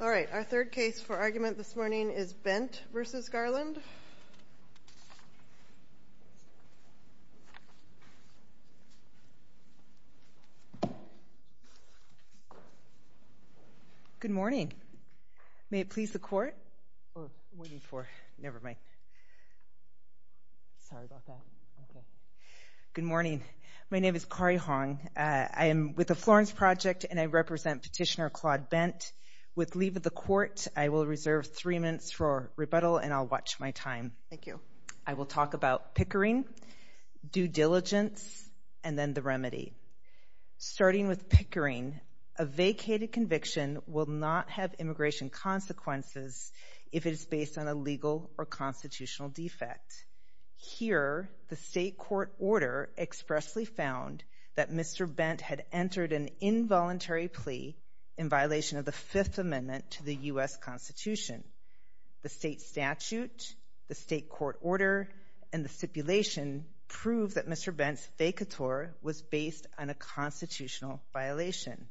All right, our third case for argument this morning is Bent v. Garland. Good morning. May it please the court? Good morning. My name is Kari Hong. I am with the Florence Project and I With leave of the court, I will reserve three minutes for rebuttal and I'll watch my time. Thank you. I will talk about pickering, due diligence and then the remedy. Starting with pickering, a vacated conviction will not have immigration consequences if it is based on a legal or constitutional defect. Here, the state court order expressly found that Mr. Bent had entered an involuntary plea in violation of the Fifth Amendment to the U.S. Constitution. The state statute, the state court order and the stipulation prove that Mr. Bent's vacatur was based on a constitutional violation.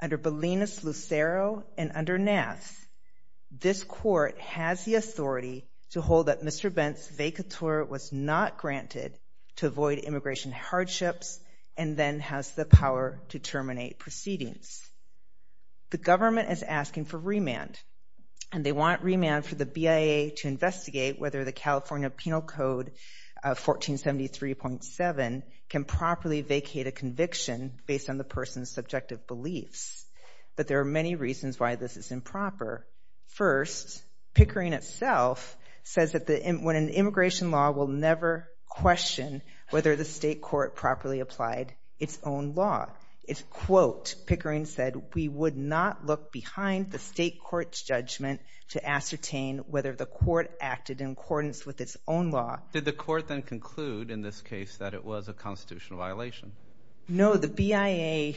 Under Bolinas-Lucero and under Nass, this court has the authority to hold that Mr. The government is asking for remand and they want remand for the BIA to investigate whether the California Penal Code of 1473.7 can properly vacate a conviction based on the person's subjective beliefs, but there are many reasons why this is improper. First, pickering itself says that when an immigration law will never question whether the state court properly applied its own law. It's quote, pickering said, we would not look behind the state court's judgment to ascertain whether the court acted in accordance with its own law. Did the court then conclude in this case that it was a constitutional violation? No, the BIA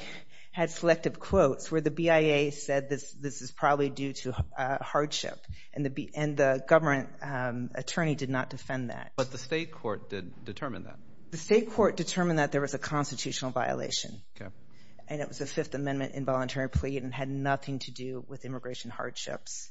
had selective quotes where the BIA said this, this is probably due to a hardship and the B and the government attorney did not defend that. But the state court did determine that. The state court determined that there was a constitutional violation and it was a Fifth Amendment involuntary plea and had nothing to do with immigration hardships.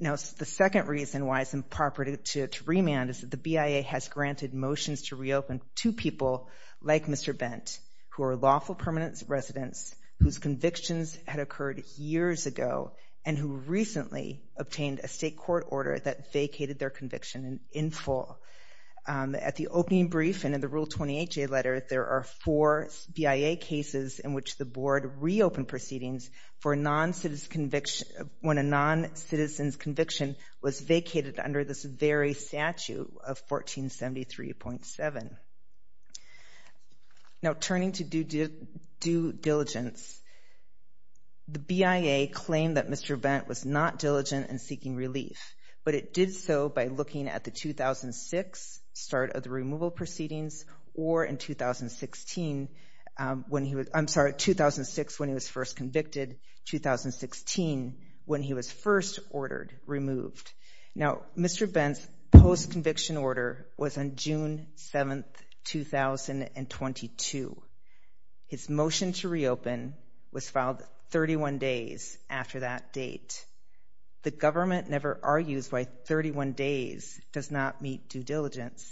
Now, the second reason why it's improper to remand is that the BIA has granted motions to reopen to people like Mr. Bent, who are lawful permanent residents whose convictions had occurred years ago and who recently obtained a state court order that vacated their conviction in full. At the opening brief and in the Rule 28J letter, there are four BIA cases in which the board reopened proceedings for a non-citizen's conviction when a non-citizen's conviction was vacated under this very statute of 1473.7. Now, turning to due diligence. The BIA claimed that Mr. Bent was not diligent in seeking relief, but it did so by looking at the 2006 start of the removal proceedings or in 2016 when he was, I'm sorry, 2006 when he was first convicted, 2016 when he was first ordered removed. Now, Mr. Bent's post-conviction order was on June 7th, 2022. His motion to reopen was filed 31 days after that date. The government never argues why 31 days does not meet due diligence,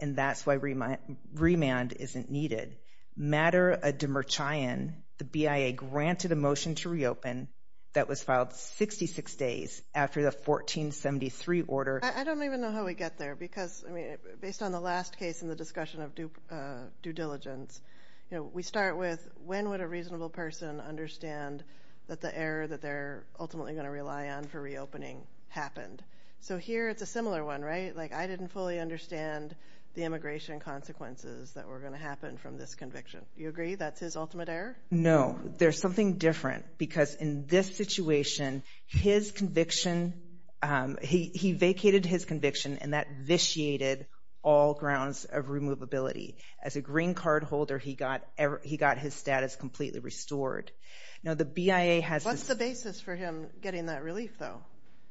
and that's why remand isn't needed. Matter of demurchian, the BIA granted a motion to reopen that was filed 66 days after the 1473 order. I don't even know how we get there because, I mean, based on the last case in the discussion of due diligence, you know, we start with when would a reasonable person understand that the error that they're ultimately going to rely on for reopening happened? So here it's a similar one, right? Like I didn't fully understand the immigration consequences that were going to happen from this conviction. You agree that's his ultimate error? No. There's something different because in this situation, his conviction, he vacated his conviction and that vitiated all grounds of removability. As a green card holder, he got his status completely restored. Now, the BIA has- What's the basis for him getting that relief, though?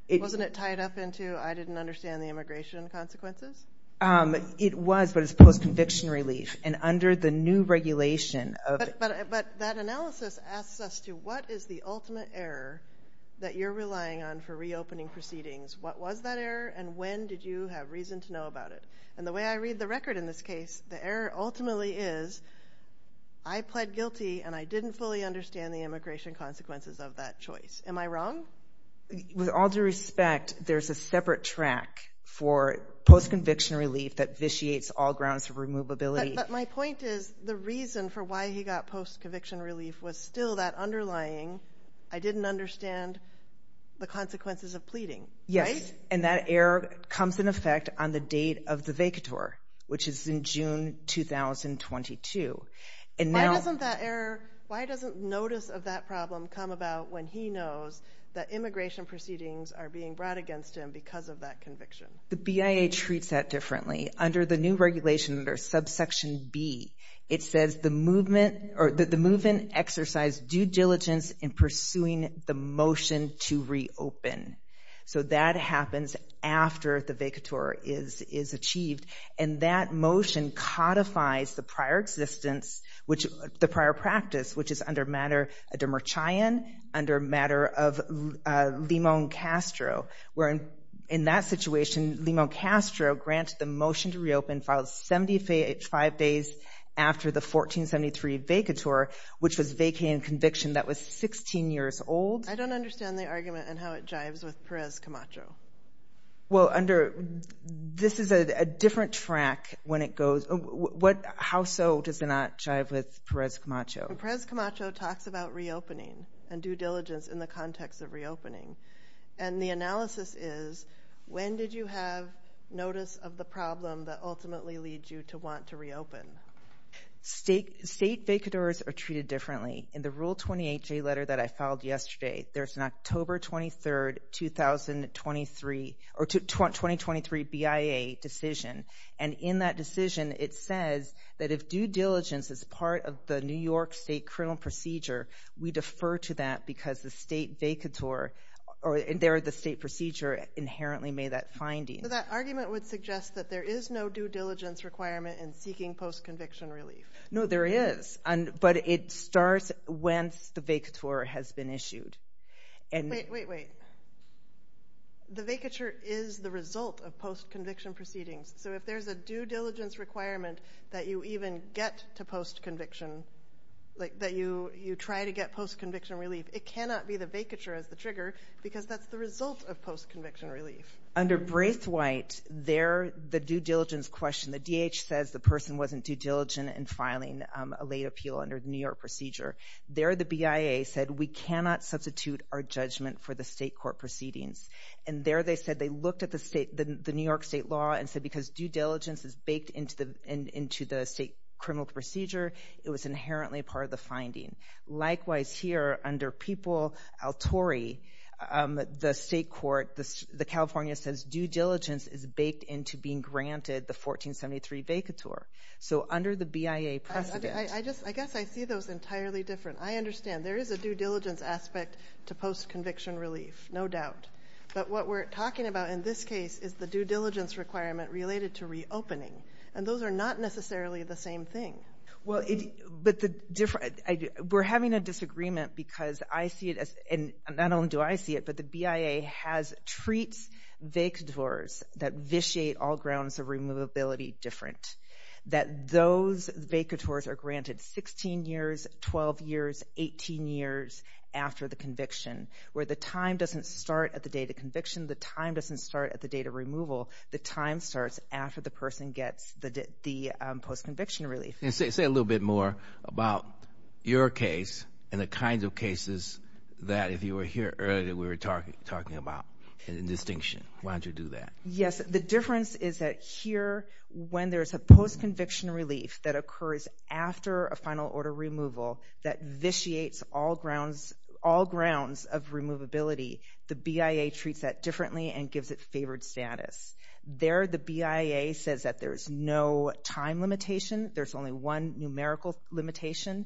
Wasn't it tied up into I didn't understand the immigration consequences? It was, but it's post-conviction relief, and under the new regulation of- But that analysis asks us to what is the ultimate error that you're relying on for reopening proceedings? What was that error and when did you have reason to know about it? And the way I read the record in this case, the error ultimately is I pled guilty and I didn't fully understand the immigration consequences of that choice. Am I wrong? With all due respect, there's a separate track for post-conviction relief that vitiates all grounds of removability. But my point is the reason for why he got post-conviction relief was still that underlying I didn't understand the consequences of pleading, right? Yes, and that error comes in effect on the date of the vacator, which is in June 2022. Why doesn't that error, why doesn't notice of that problem come about when he knows that immigration proceedings are being brought against him because of that conviction? The BIA treats that differently. Under the new regulation, under subsection B, it says the movement or the movement exercised due diligence in pursuing the motion to reopen. So that happens after the vacator is achieved. And that motion codifies the prior existence, which the prior practice, which is under matter of Demerchian, under matter of Limón Castro. Where in that situation, Limón Castro granted the motion to reopen filed 75 days after the 1473 vacator, which was vacating conviction that was 16 years old. I don't understand the argument and how it jives with Perez Camacho. Well, under, this is a different track when it goes, what, how so does it not jive with Perez Camacho? Perez Camacho talks about reopening and due diligence in the context of reopening. And the analysis is, when did you have notice of the problem that ultimately leads you to want to reopen? State, state vacators are treated differently. In the Rule 28J letter that I filed yesterday, there's an October 23rd, 2023, or 2023 BIA decision. And in that decision, it says that if due diligence is part of the New York state criminal procedure, we defer to that because the state vacator, or the state procedure inherently made that finding. So that argument would suggest that there is no due diligence requirement in seeking post-conviction relief. No, there is. But it starts when the vacator has been issued. Wait, wait, wait. The vacature is the result of post-conviction proceedings. So if there's a due diligence requirement that you even get to post-conviction, like that you try to get post-conviction relief, it cannot be the vacature as the trigger because that's the result of post-conviction relief. Under Braithwaite, there, the due diligence question, the D.H. says the person wasn't due diligent in filing a late appeal under the New York procedure. There, the BIA said we cannot substitute our judgment for the state court proceedings. And there they said they looked at the New York state law and said because due diligence is baked into the state criminal procedure, it was inherently part of the finding. Likewise, here, under People v. El Tori, the state court, the California says due diligence is baked into being granted the 1473 vacature. So under the BIA precedent. I guess I see those entirely different. I understand. There is a due diligence aspect to post-conviction relief, no doubt. But what we're talking about in this case is the due diligence requirement related to reopening. And those are not necessarily the same thing. We're having a disagreement because I see it as, and not only do I see it, but the BIA treats vacatures that vitiate all grounds of removability different. That those vacatures are granted 16 years, 12 years, 18 years after the conviction. Where the time doesn't start at the date of conviction, the time doesn't start at the date of removal. The time starts after the person gets the post-conviction relief. Say a little bit more about your case and the kinds of cases that, if you were here earlier, we were talking about in distinction. Why don't you do that? Yes, the difference is that here, when there's a post-conviction relief that occurs after a final order removal that vitiates all grounds of removability, the BIA treats that differently and gives it favored status. There, the BIA says that there's no time limitation. There's only one numerical limitation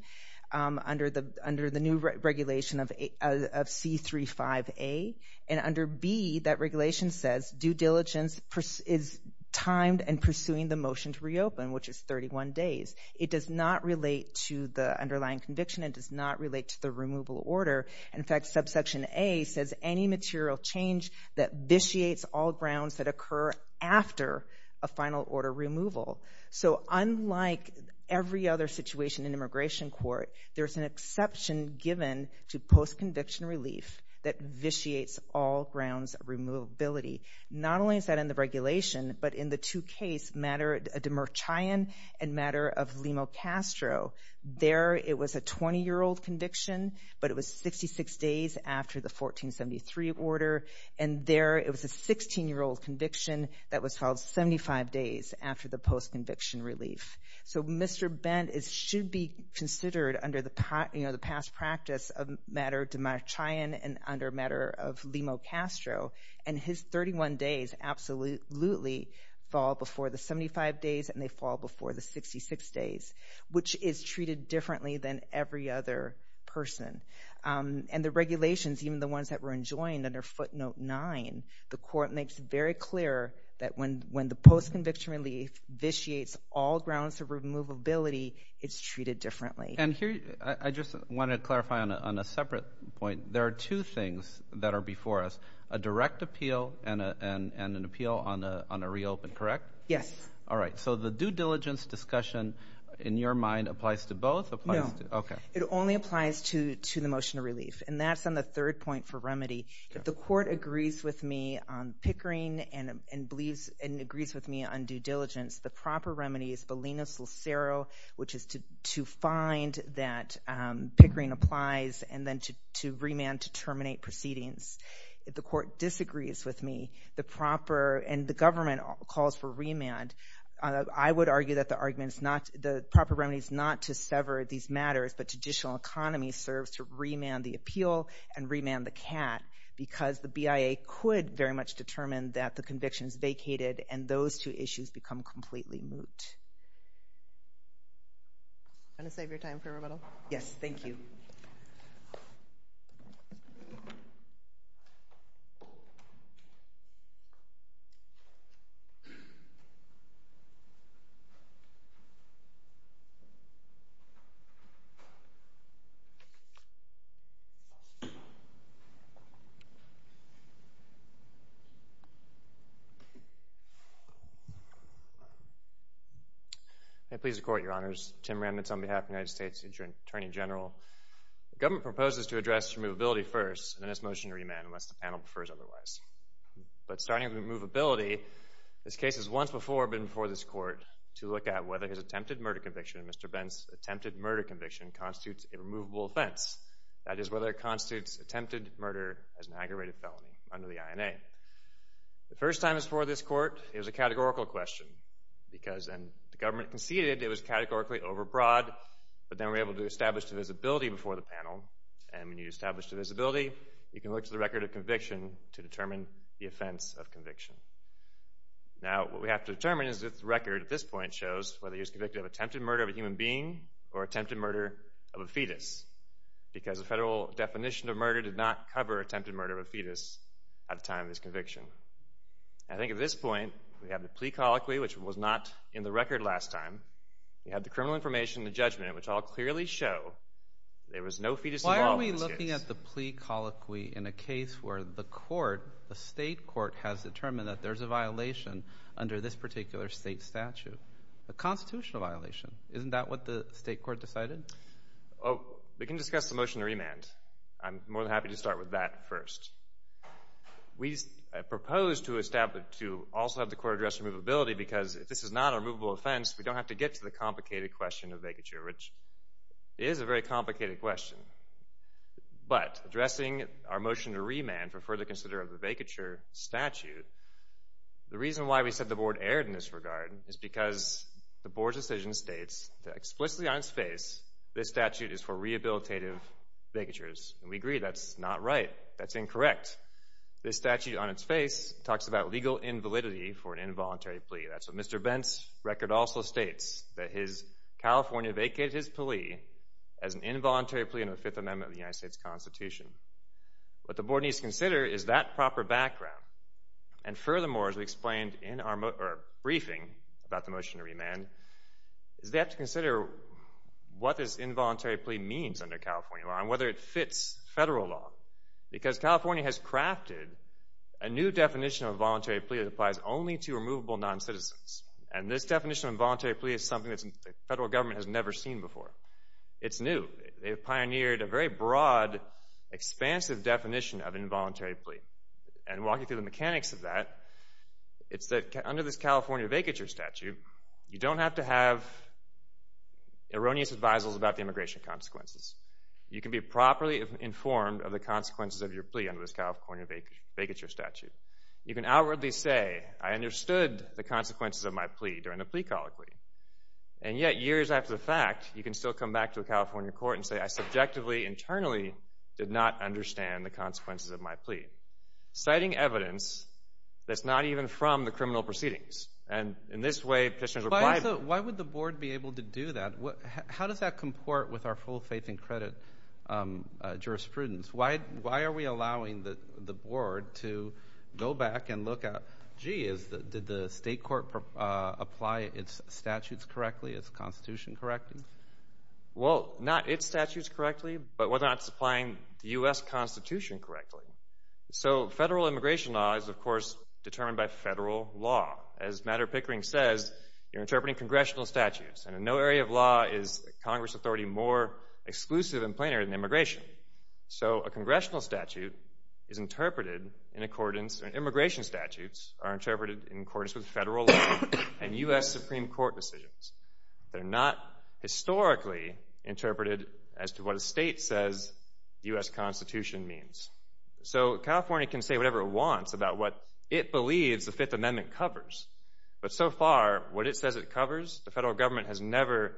under the new regulation of C35A. And under B, that regulation says due diligence is timed and pursuing the motion to reopen, which is 31 days. It does not relate to the underlying conviction. It does not relate to the removal order. In fact, subsection A says any material change that vitiates all grounds that occur after a final order removal. So unlike every other situation in immigration court, there's an exception given to post-conviction relief that vitiates all grounds of removability. Not only is that in the regulation, but in the two cases, matter of Demurchian and matter of Limo Castro. There, it was a 20-year-old conviction, but it was 66 days after the 1473 order. And there, it was a 16-year-old conviction that was held 75 days after the post-conviction relief. So Mr. Bent should be considered under the past practice of matter of Demurchian and under matter of Limo Castro. And his 31 days absolutely fall before the 75 days, and they fall before the 66 days, which is treated differently than every other person. And the regulations, even the ones that were enjoined under footnote 9, the court makes very clear that when the post-conviction relief vitiates all grounds of removability, it's treated differently. And here, I just want to clarify on a separate point. There are two things that are before us, a direct appeal and an appeal on a reopen, correct? Yes. All right. So the due diligence discussion in your mind applies to both? No. Okay. It only applies to the motion of relief. And that's on the third point for remedy. If the court agrees with me on Pickering and agrees with me on due diligence, the proper remedy is Bolinas-Lucero, which is to find that Pickering applies and then to remand to terminate proceedings. If the court disagrees with me, and the government calls for remand, I would argue that the proper remedy is not to sever these matters, but traditional economy serves to remand the appeal and remand the cat, because the BIA could very much determine that the conviction is vacated, and those two issues become completely moot. Want to save your time for rebuttal? Yes. Thank you. Thank you. May it please the Court, Your Honors. Tim Remnitz on behalf of the United States Attorney General. The government proposes to address removability first, and then its motion to remand unless the panel prefers otherwise. But starting with removability, this case has once before been before this Court to look at whether his attempted murder conviction, Mr. Bent's attempted murder conviction, constitutes a removable offense. That is, whether it constitutes attempted murder as an aggravated felony under the INA. The first time it was before this Court, it was a categorical question, because when the government conceded, it was categorically overbroad, but then we were able to establish the visibility before the panel, and when you establish the visibility, you can look to the record of conviction to determine the offense of conviction. Now, what we have to determine is if the record at this point shows whether he was convicted of attempted murder of a human being or attempted murder of a fetus, because the federal definition of murder did not cover attempted murder of a fetus at the time of his conviction. I think at this point, we have the plea colloquy, which was not in the record last time. We have the criminal information and the judgment, which all clearly show there was no fetus involved in this case. You're looking at the plea colloquy in a case where the court, the state court, has determined that there's a violation under this particular state statute, a constitutional violation. Isn't that what the state court decided? Oh, we can discuss the motion to remand. I'm more than happy to start with that first. We propose to also have the court address removability, because if this is not a removable offense, we don't have to get to the complicated question of vacature, which is a very complicated question. But addressing our motion to remand for further consideration of the vacature statute, the reason why we said the board erred in this regard is because the board's decision states that explicitly on its face, this statute is for rehabilitative vacatures. We agree that's not right. That's incorrect. This statute on its face talks about legal invalidity for an involuntary plea. That's what Mr. Bent's record also states, that California vacated his plea as an involuntary plea under the Fifth Amendment of the United States Constitution. What the board needs to consider is that proper background. And furthermore, as we explained in our briefing about the motion to remand, is they have to consider what this involuntary plea means under California law and whether it fits federal law. Because California has crafted a new definition of a voluntary plea that applies only to removable noncitizens. And this definition of involuntary plea is something that the federal government has never seen before. It's new. They've pioneered a very broad, expansive definition of involuntary plea. And walking through the mechanics of that, it's that under this California vacature statute, you don't have to have erroneous advisals about the immigration consequences. You can be properly informed of the consequences of your plea under this California vacature statute. You can outwardly say, I understood the consequences of my plea during the plea colloquy. And yet, years after the fact, you can still come back to a California court and say, I subjectively, internally, did not understand the consequences of my plea. Citing evidence that's not even from the criminal proceedings. And in this way, petitioners are bribed. Why would the board be able to do that? How does that comport with our full faith and credit jurisprudence? Why are we allowing the board to go back and look at, gee, did the state court apply its statutes correctly, its constitution correctly? Well, not its statutes correctly, but whether or not it's applying the U.S. Constitution correctly. So federal immigration law is, of course, determined by federal law. As Matter Pickering says, you're interpreting congressional statutes. And in no area of law is Congress authority more exclusive and plainer than immigration. So a congressional statute is interpreted in accordance, or immigration statutes are interpreted in accordance with federal law and U.S. Supreme Court decisions. They're not historically interpreted as to what a state says the U.S. Constitution means. So California can say whatever it wants about what it believes the Fifth Amendment covers. But so far, what it says it covers, the federal government has never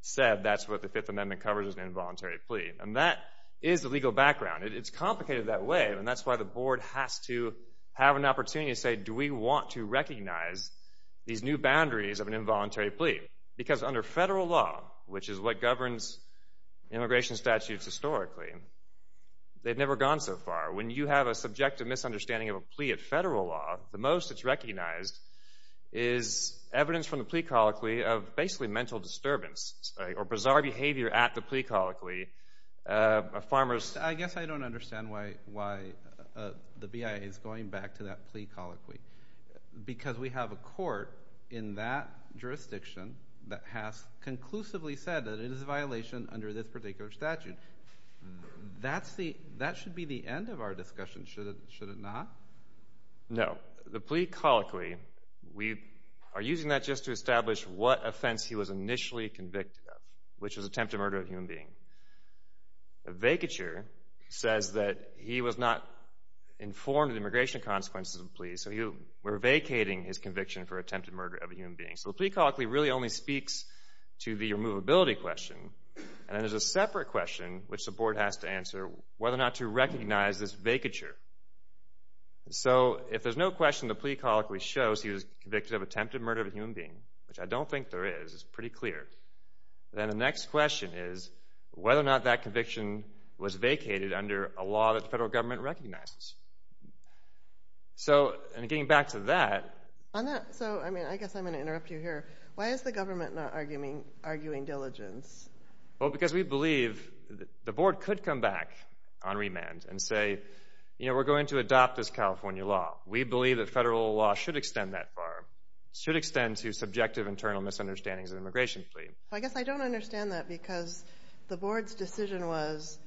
said that's what the Fifth Amendment covers in an involuntary plea. And that is the legal background. It's complicated that way, and that's why the board has to have an opportunity to say, do we want to recognize these new boundaries of an involuntary plea? Because under federal law, which is what governs immigration statutes historically, they've never gone so far. When you have a subjective misunderstanding of a plea of federal law, the most it's recognized is evidence from the plea colloquy of basically mental disturbance or bizarre behavior at the plea colloquy. I guess I don't understand why the BIA is going back to that plea colloquy because we have a court in that jurisdiction that has conclusively said that it is a violation under this particular statute. That should be the end of our discussion, should it not? No. The plea colloquy, we are using that just to establish what offense he was initially convicted of, which was attempted murder of a human being. The vacature says that he was not informed of the immigration consequences of the plea, so we're vacating his conviction for attempted murder of a human being. So the plea colloquy really only speaks to the removability question, and there's a separate question which the board has to answer, whether or not to recognize this vacature. So if there's no question the plea colloquy shows he was convicted of attempted murder of a human being, which I don't think there is, it's pretty clear, then the next question is whether or not that conviction was vacated under a law that the federal government recognizes. So, and getting back to that... On that, so I mean, I guess I'm going to interrupt you here. Why is the government not arguing diligence? Well, because we believe the board could come back on remand and say, you know, we're going to adopt this California law. We believe that federal law should extend that far, should extend to subjective internal misunderstandings of the immigration plea. I guess I don't understand that, because the board's decision was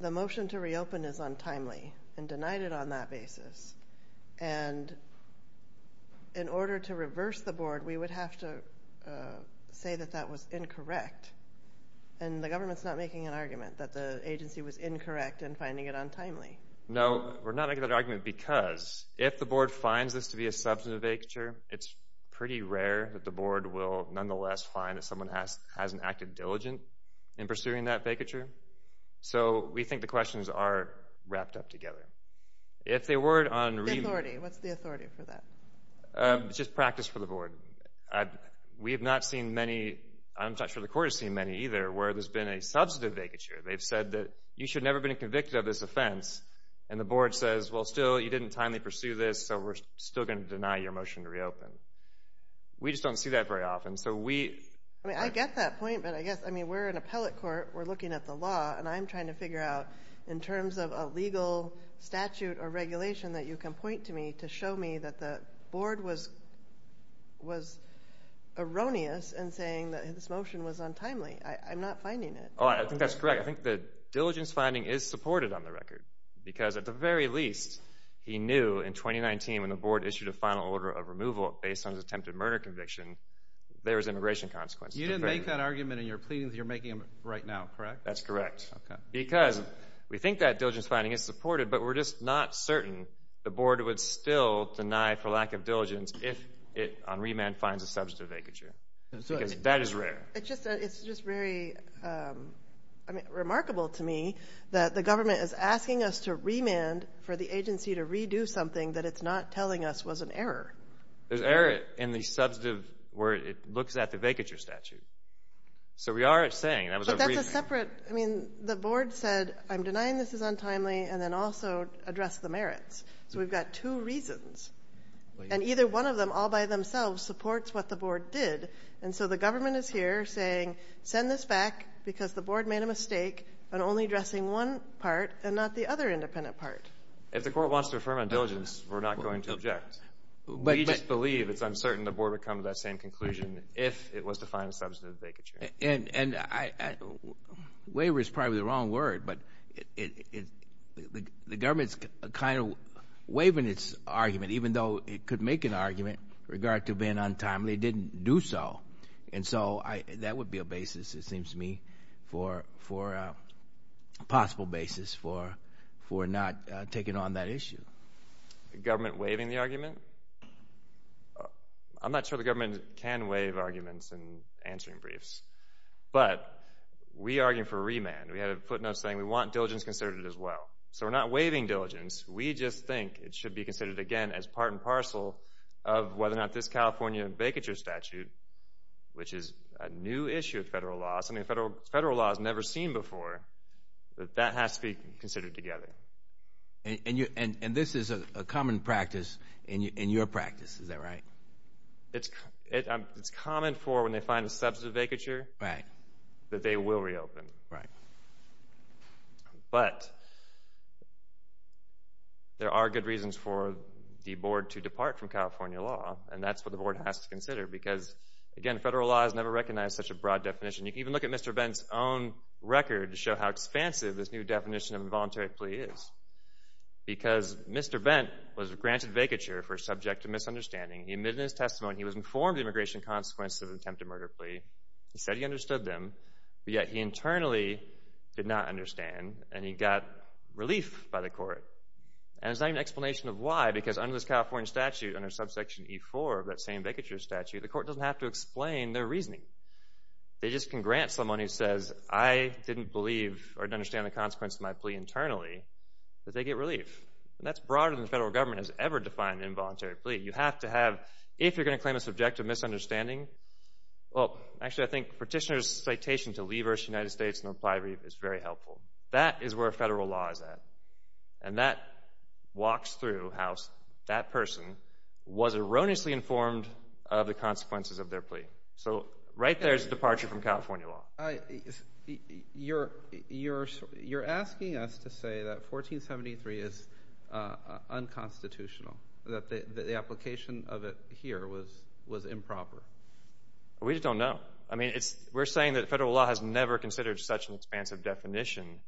the motion to reopen is untimely, and denied it on that basis. And in order to reverse the board, we would have to say that that was incorrect. And the government's not making an argument that the agency was incorrect in finding it untimely. No, we're not making that argument because if the board finds this to be a substantive vacature, it's pretty rare that the board will nonetheless find that someone has an active diligence in pursuing that vacature. So we think the questions are wrapped up together. If they were on remand... The authority, what's the authority for that? Just practice for the board. We have not seen many, I'm not sure the court has seen many either, where there's been a substantive vacature. They've said that you should never have been convicted of this offense. And the board says, well, still, you didn't timely pursue this, so we're still going to deny your motion to reopen. We just don't see that very often, so we... I mean, I get that point, but I guess, I mean, we're an appellate court. We're looking at the law, and I'm trying to figure out in terms of a legal statute or regulation that you can point to me to show me that the board was erroneous in saying that this motion was untimely. I'm not finding it. Oh, I think that's correct. I think the diligence finding is supported on the record, because at the very least, he knew in 2019, when the board issued a final order of removal based on his attempted murder conviction, there was immigration consequences. You didn't make that argument in your pleadings that you're making right now, correct? That's correct. Okay. Because we think that diligence finding is supported, but we're just not certain the board would still deny for lack of diligence if it on remand finds a substantive vacature, because that is rare. It's just very remarkable to me that the government is asking us to remand for the agency to redo something that it's not telling us was an error. There's error in the substantive where it looks at the vacature statute. So we are saying that was a reason. But that's a separate. I mean, the board said, I'm denying this is untimely, and then also addressed the merits. So we've got two reasons, and either one of them all by themselves supports what the board did, and so the government is here saying send this back because the board made a mistake on only addressing one part and not the other independent part. If the court wants to affirm on diligence, we're not going to object. We just believe it's uncertain the board would come to that same conclusion if it was to find a substantive vacature. And waiver is probably the wrong word, but the government is kind of waiving its argument, even though it could make an argument with regard to being untimely, it didn't do so. And so that would be a basis, it seems to me, for a possible basis for not taking on that issue. Government waiving the argument? I'm not sure the government can waive arguments in answering briefs, but we argue for remand. We had a footnote saying we want diligence considered as well. So we're not waiving diligence. We just think it should be considered, again, as part and parcel of whether or not this California vacature statute, which is a new issue of federal law, something federal law has never seen before, that that has to be considered together. And this is a common practice in your practice, is that right? It's common for when they find a substantive vacature that they will reopen. Right. But there are good reasons for the board to depart from California law, and that's what the board has to consider. Because, again, federal law has never recognized such a broad definition. You can even look at Mr. Bent's own record to show how expansive this new definition of involuntary plea is. Because Mr. Bent was granted vacature for subject to misunderstanding. He admitted in his testimony he was informed of the immigration consequences of an attempted murder plea. He said he understood them, but yet he internally did not understand, and he got relief by the court. And there's not even an explanation of why, because under this California statute, under subsection E-4 of that same vacature statute, the court doesn't have to explain their reasoning. They just can grant someone who says, I didn't believe or didn't understand the consequences of my plea internally, that they get relief. And that's broader than the federal government has ever defined involuntary plea. You have to have, if you're going to claim a subjective misunderstanding, well, actually, I think Petitioner's citation to Lee versus United States in the plea brief is very helpful. That is where federal law is at. And that walks through how that person was erroneously informed of the consequences of their plea. So right there is a departure from California law. You're asking us to say that 1473 is unconstitutional, that the application of it here was improper. We just don't know. I mean, we're saying that federal law has never considered such an expansive definition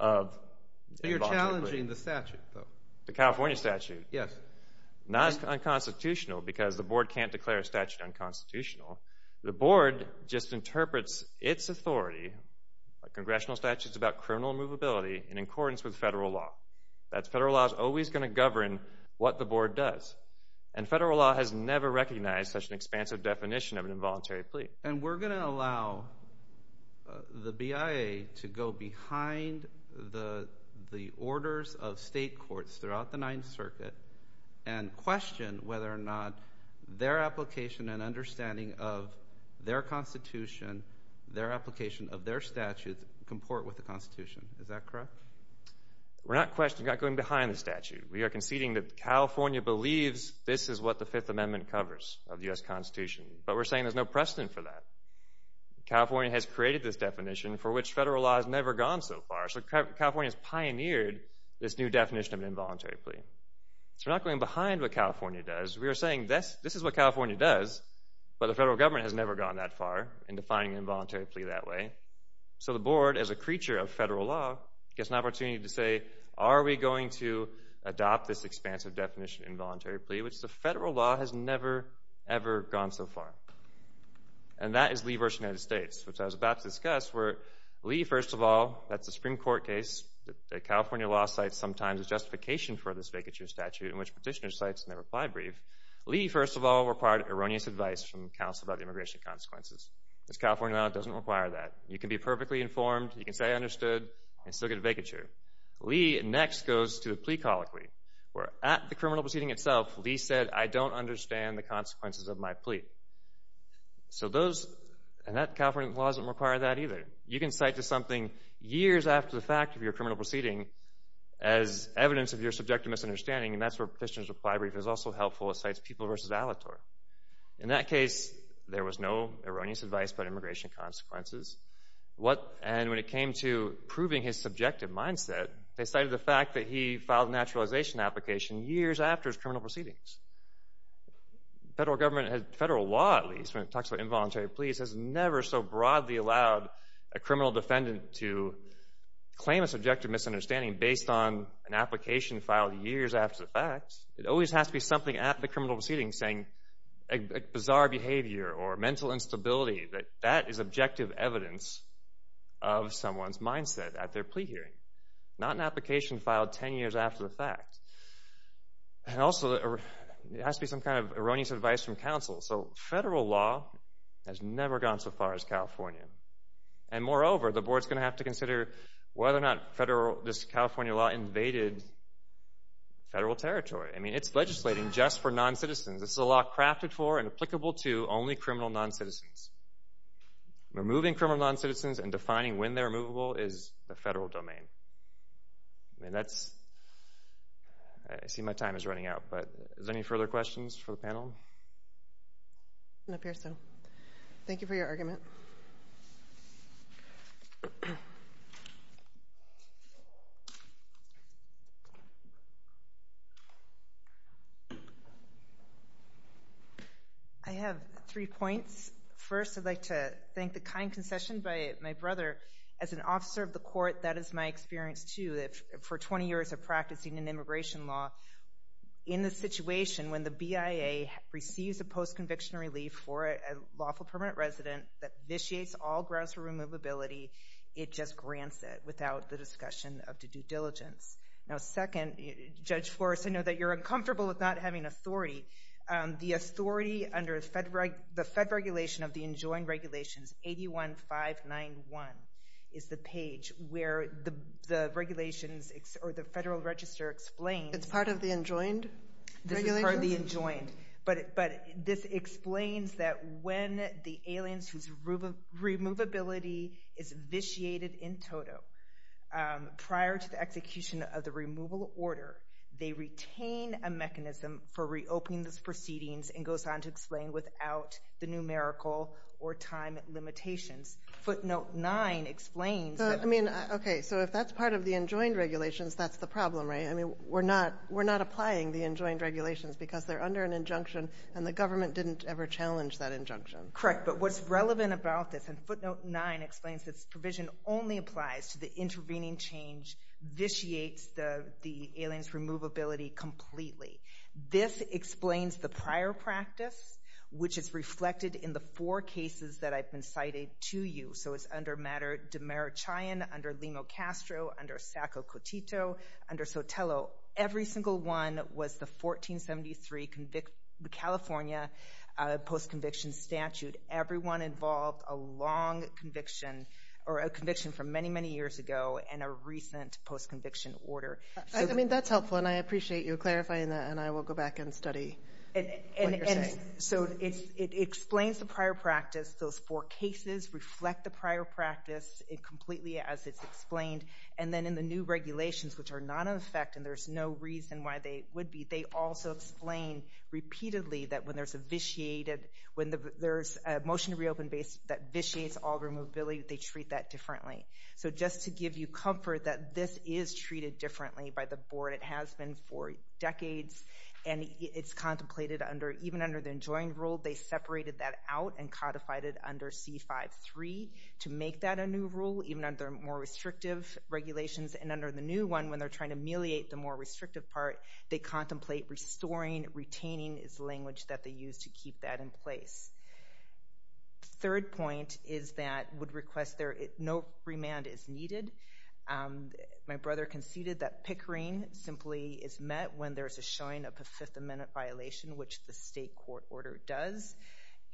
of involuntary plea. You're challenging the statute, though. The California statute? Yes. Not as unconstitutional, because the board can't declare a statute unconstitutional. The board just interprets its authority, like congressional statutes about criminal immovability, in accordance with federal law. That's federal law. It's always going to govern what the board does. And federal law has never recognized such an expansive definition of an involuntary plea. And we're going to allow the BIA to go behind the orders of state courts throughout the Ninth Circuit and question whether or not their application and understanding of their Constitution, their application of their statute, comport with the Constitution. Is that correct? We're not going behind the statute. We are conceding that California believes this is what the Fifth Amendment covers of the U.S. Constitution. But we're saying there's no precedent for that. California has created this definition for which federal law has never gone so far. So California has pioneered this new definition of an involuntary plea. So we're not going behind what California does. We are saying this is what California does, but the federal government has never gone that far in defining an involuntary plea that way. So the board, as a creature of federal law, gets an opportunity to say, are we going to adopt this expansive definition of involuntary plea, which the federal law has never, ever gone so far? And that is Lee v. United States, which I was about to discuss, where Lee, first of all, that's a Supreme Court case. The California law cites sometimes a justification for this vacature statute in which petitioner cites in their reply brief. Lee, first of all, required erroneous advice from counsel about immigration consequences. This California law doesn't require that. You can be perfectly informed, you can say I understood, and still get a vacature. Lee next goes to the plea colloquy, where at the criminal proceeding itself, Lee said, I don't understand the consequences of my plea. So those, and that California law doesn't require that either. You can cite to something years after the fact of your criminal proceeding as evidence of your subjective misunderstanding, and that's where a petitioner's reply brief is also helpful. It cites People v. Alatorre. In that case, there was no erroneous advice about immigration consequences. And when it came to proving his subjective mindset, they cited the fact that he filed a naturalization application years after his criminal proceedings. Federal government, federal law at least, when it talks about involuntary pleas, has never so broadly allowed a criminal defendant to claim a subjective misunderstanding based on an application filed years after the fact. It always has to be something at the criminal proceeding saying a bizarre behavior or mental instability. That is objective evidence of someone's mindset at their plea hearing, not an application filed ten years after the fact. And also, it has to be some kind of erroneous advice from counsel. So federal law has never gone so far as California. And moreover, the board's going to have to consider whether or not this California law invaded federal territory. I mean, it's legislating just for noncitizens. This is a law crafted for and applicable to only criminal noncitizens. Removing criminal noncitizens and defining when they're removable is the federal domain. I mean, that's – I see my time is running out, but are there any further questions for the panel? Ms. Pearson, thank you for your argument. I have three points. First, I'd like to thank the kind concession by my brother. As an officer of the court, that is my experience, too, for 20 years of practicing in immigration law. In the situation when the BIA receives a post-conviction relief for a lawful permanent resident that initiates all grounds for removability, it just grants it without the discussion of the due diligence. Now, second, Judge Flores, I know that you're uncomfortable with not having authority. The authority under the fed regulation of the Enjoined Regulations 81591 is the page where the regulations or the federal register explains. It's part of the Enjoined Regulations? This is part of the Enjoined. But this explains that when the aliens whose removability is vitiated in toto prior to the execution of the removal order, they retain a mechanism for reopening those proceedings and goes on to explain without the numerical or time limitations. Footnote 9 explains that. I mean, okay, so if that's part of the Enjoined Regulations, that's the problem, right? I mean, we're not applying the Enjoined Regulations because they're under an injunction and the government didn't ever challenge that injunction. Correct, but what's relevant about this, and footnote 9 explains this provision only applies to the intervening change, vitiates the aliens' removability completely. This explains the prior practice, which is reflected in the four cases that I've been citing to you. So it's under matter Demerichian, under Limo-Castro, under Sacco-Cotito, under Sotelo. Every single one was the 1473 California post-conviction statute. Everyone involved a long conviction or a conviction from many, many years ago and a recent post-conviction order. I mean, that's helpful, and I appreciate you clarifying that, and I will go back and study what you're saying. So it explains the prior practice. Those four cases reflect the prior practice completely as it's explained. And then in the new regulations, which are not in effect and there's no reason why they would be, they also explain repeatedly that when there's a motion to reopen that vitiates all removability, they treat that differently. So just to give you comfort that this is treated differently by the board. It has been for decades, and it's contemplated even under the enjoined rule, they separated that out and codified it under C-5-3 to make that a new rule, even under more restrictive regulations. And under the new one, when they're trying to ameliorate the more restrictive part, they contemplate restoring, retaining is the language that they use to keep that in place. The third point is that no remand is needed. My brother conceded that Pickering simply is met when there's a showing of a Fifth Amendment violation, which the state court order does.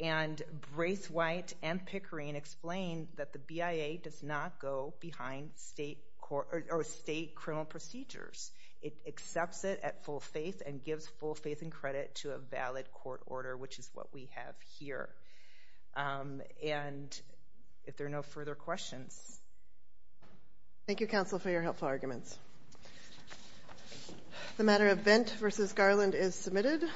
And Brace White and Pickering explain that the BIA does not go behind state criminal procedures. It accepts it at full faith and gives full faith and credit to a valid court order, which is what we have here. And if there are no further questions. Thank you, counsel, for your helpful arguments. The matter of Vent v. Garland is submitted.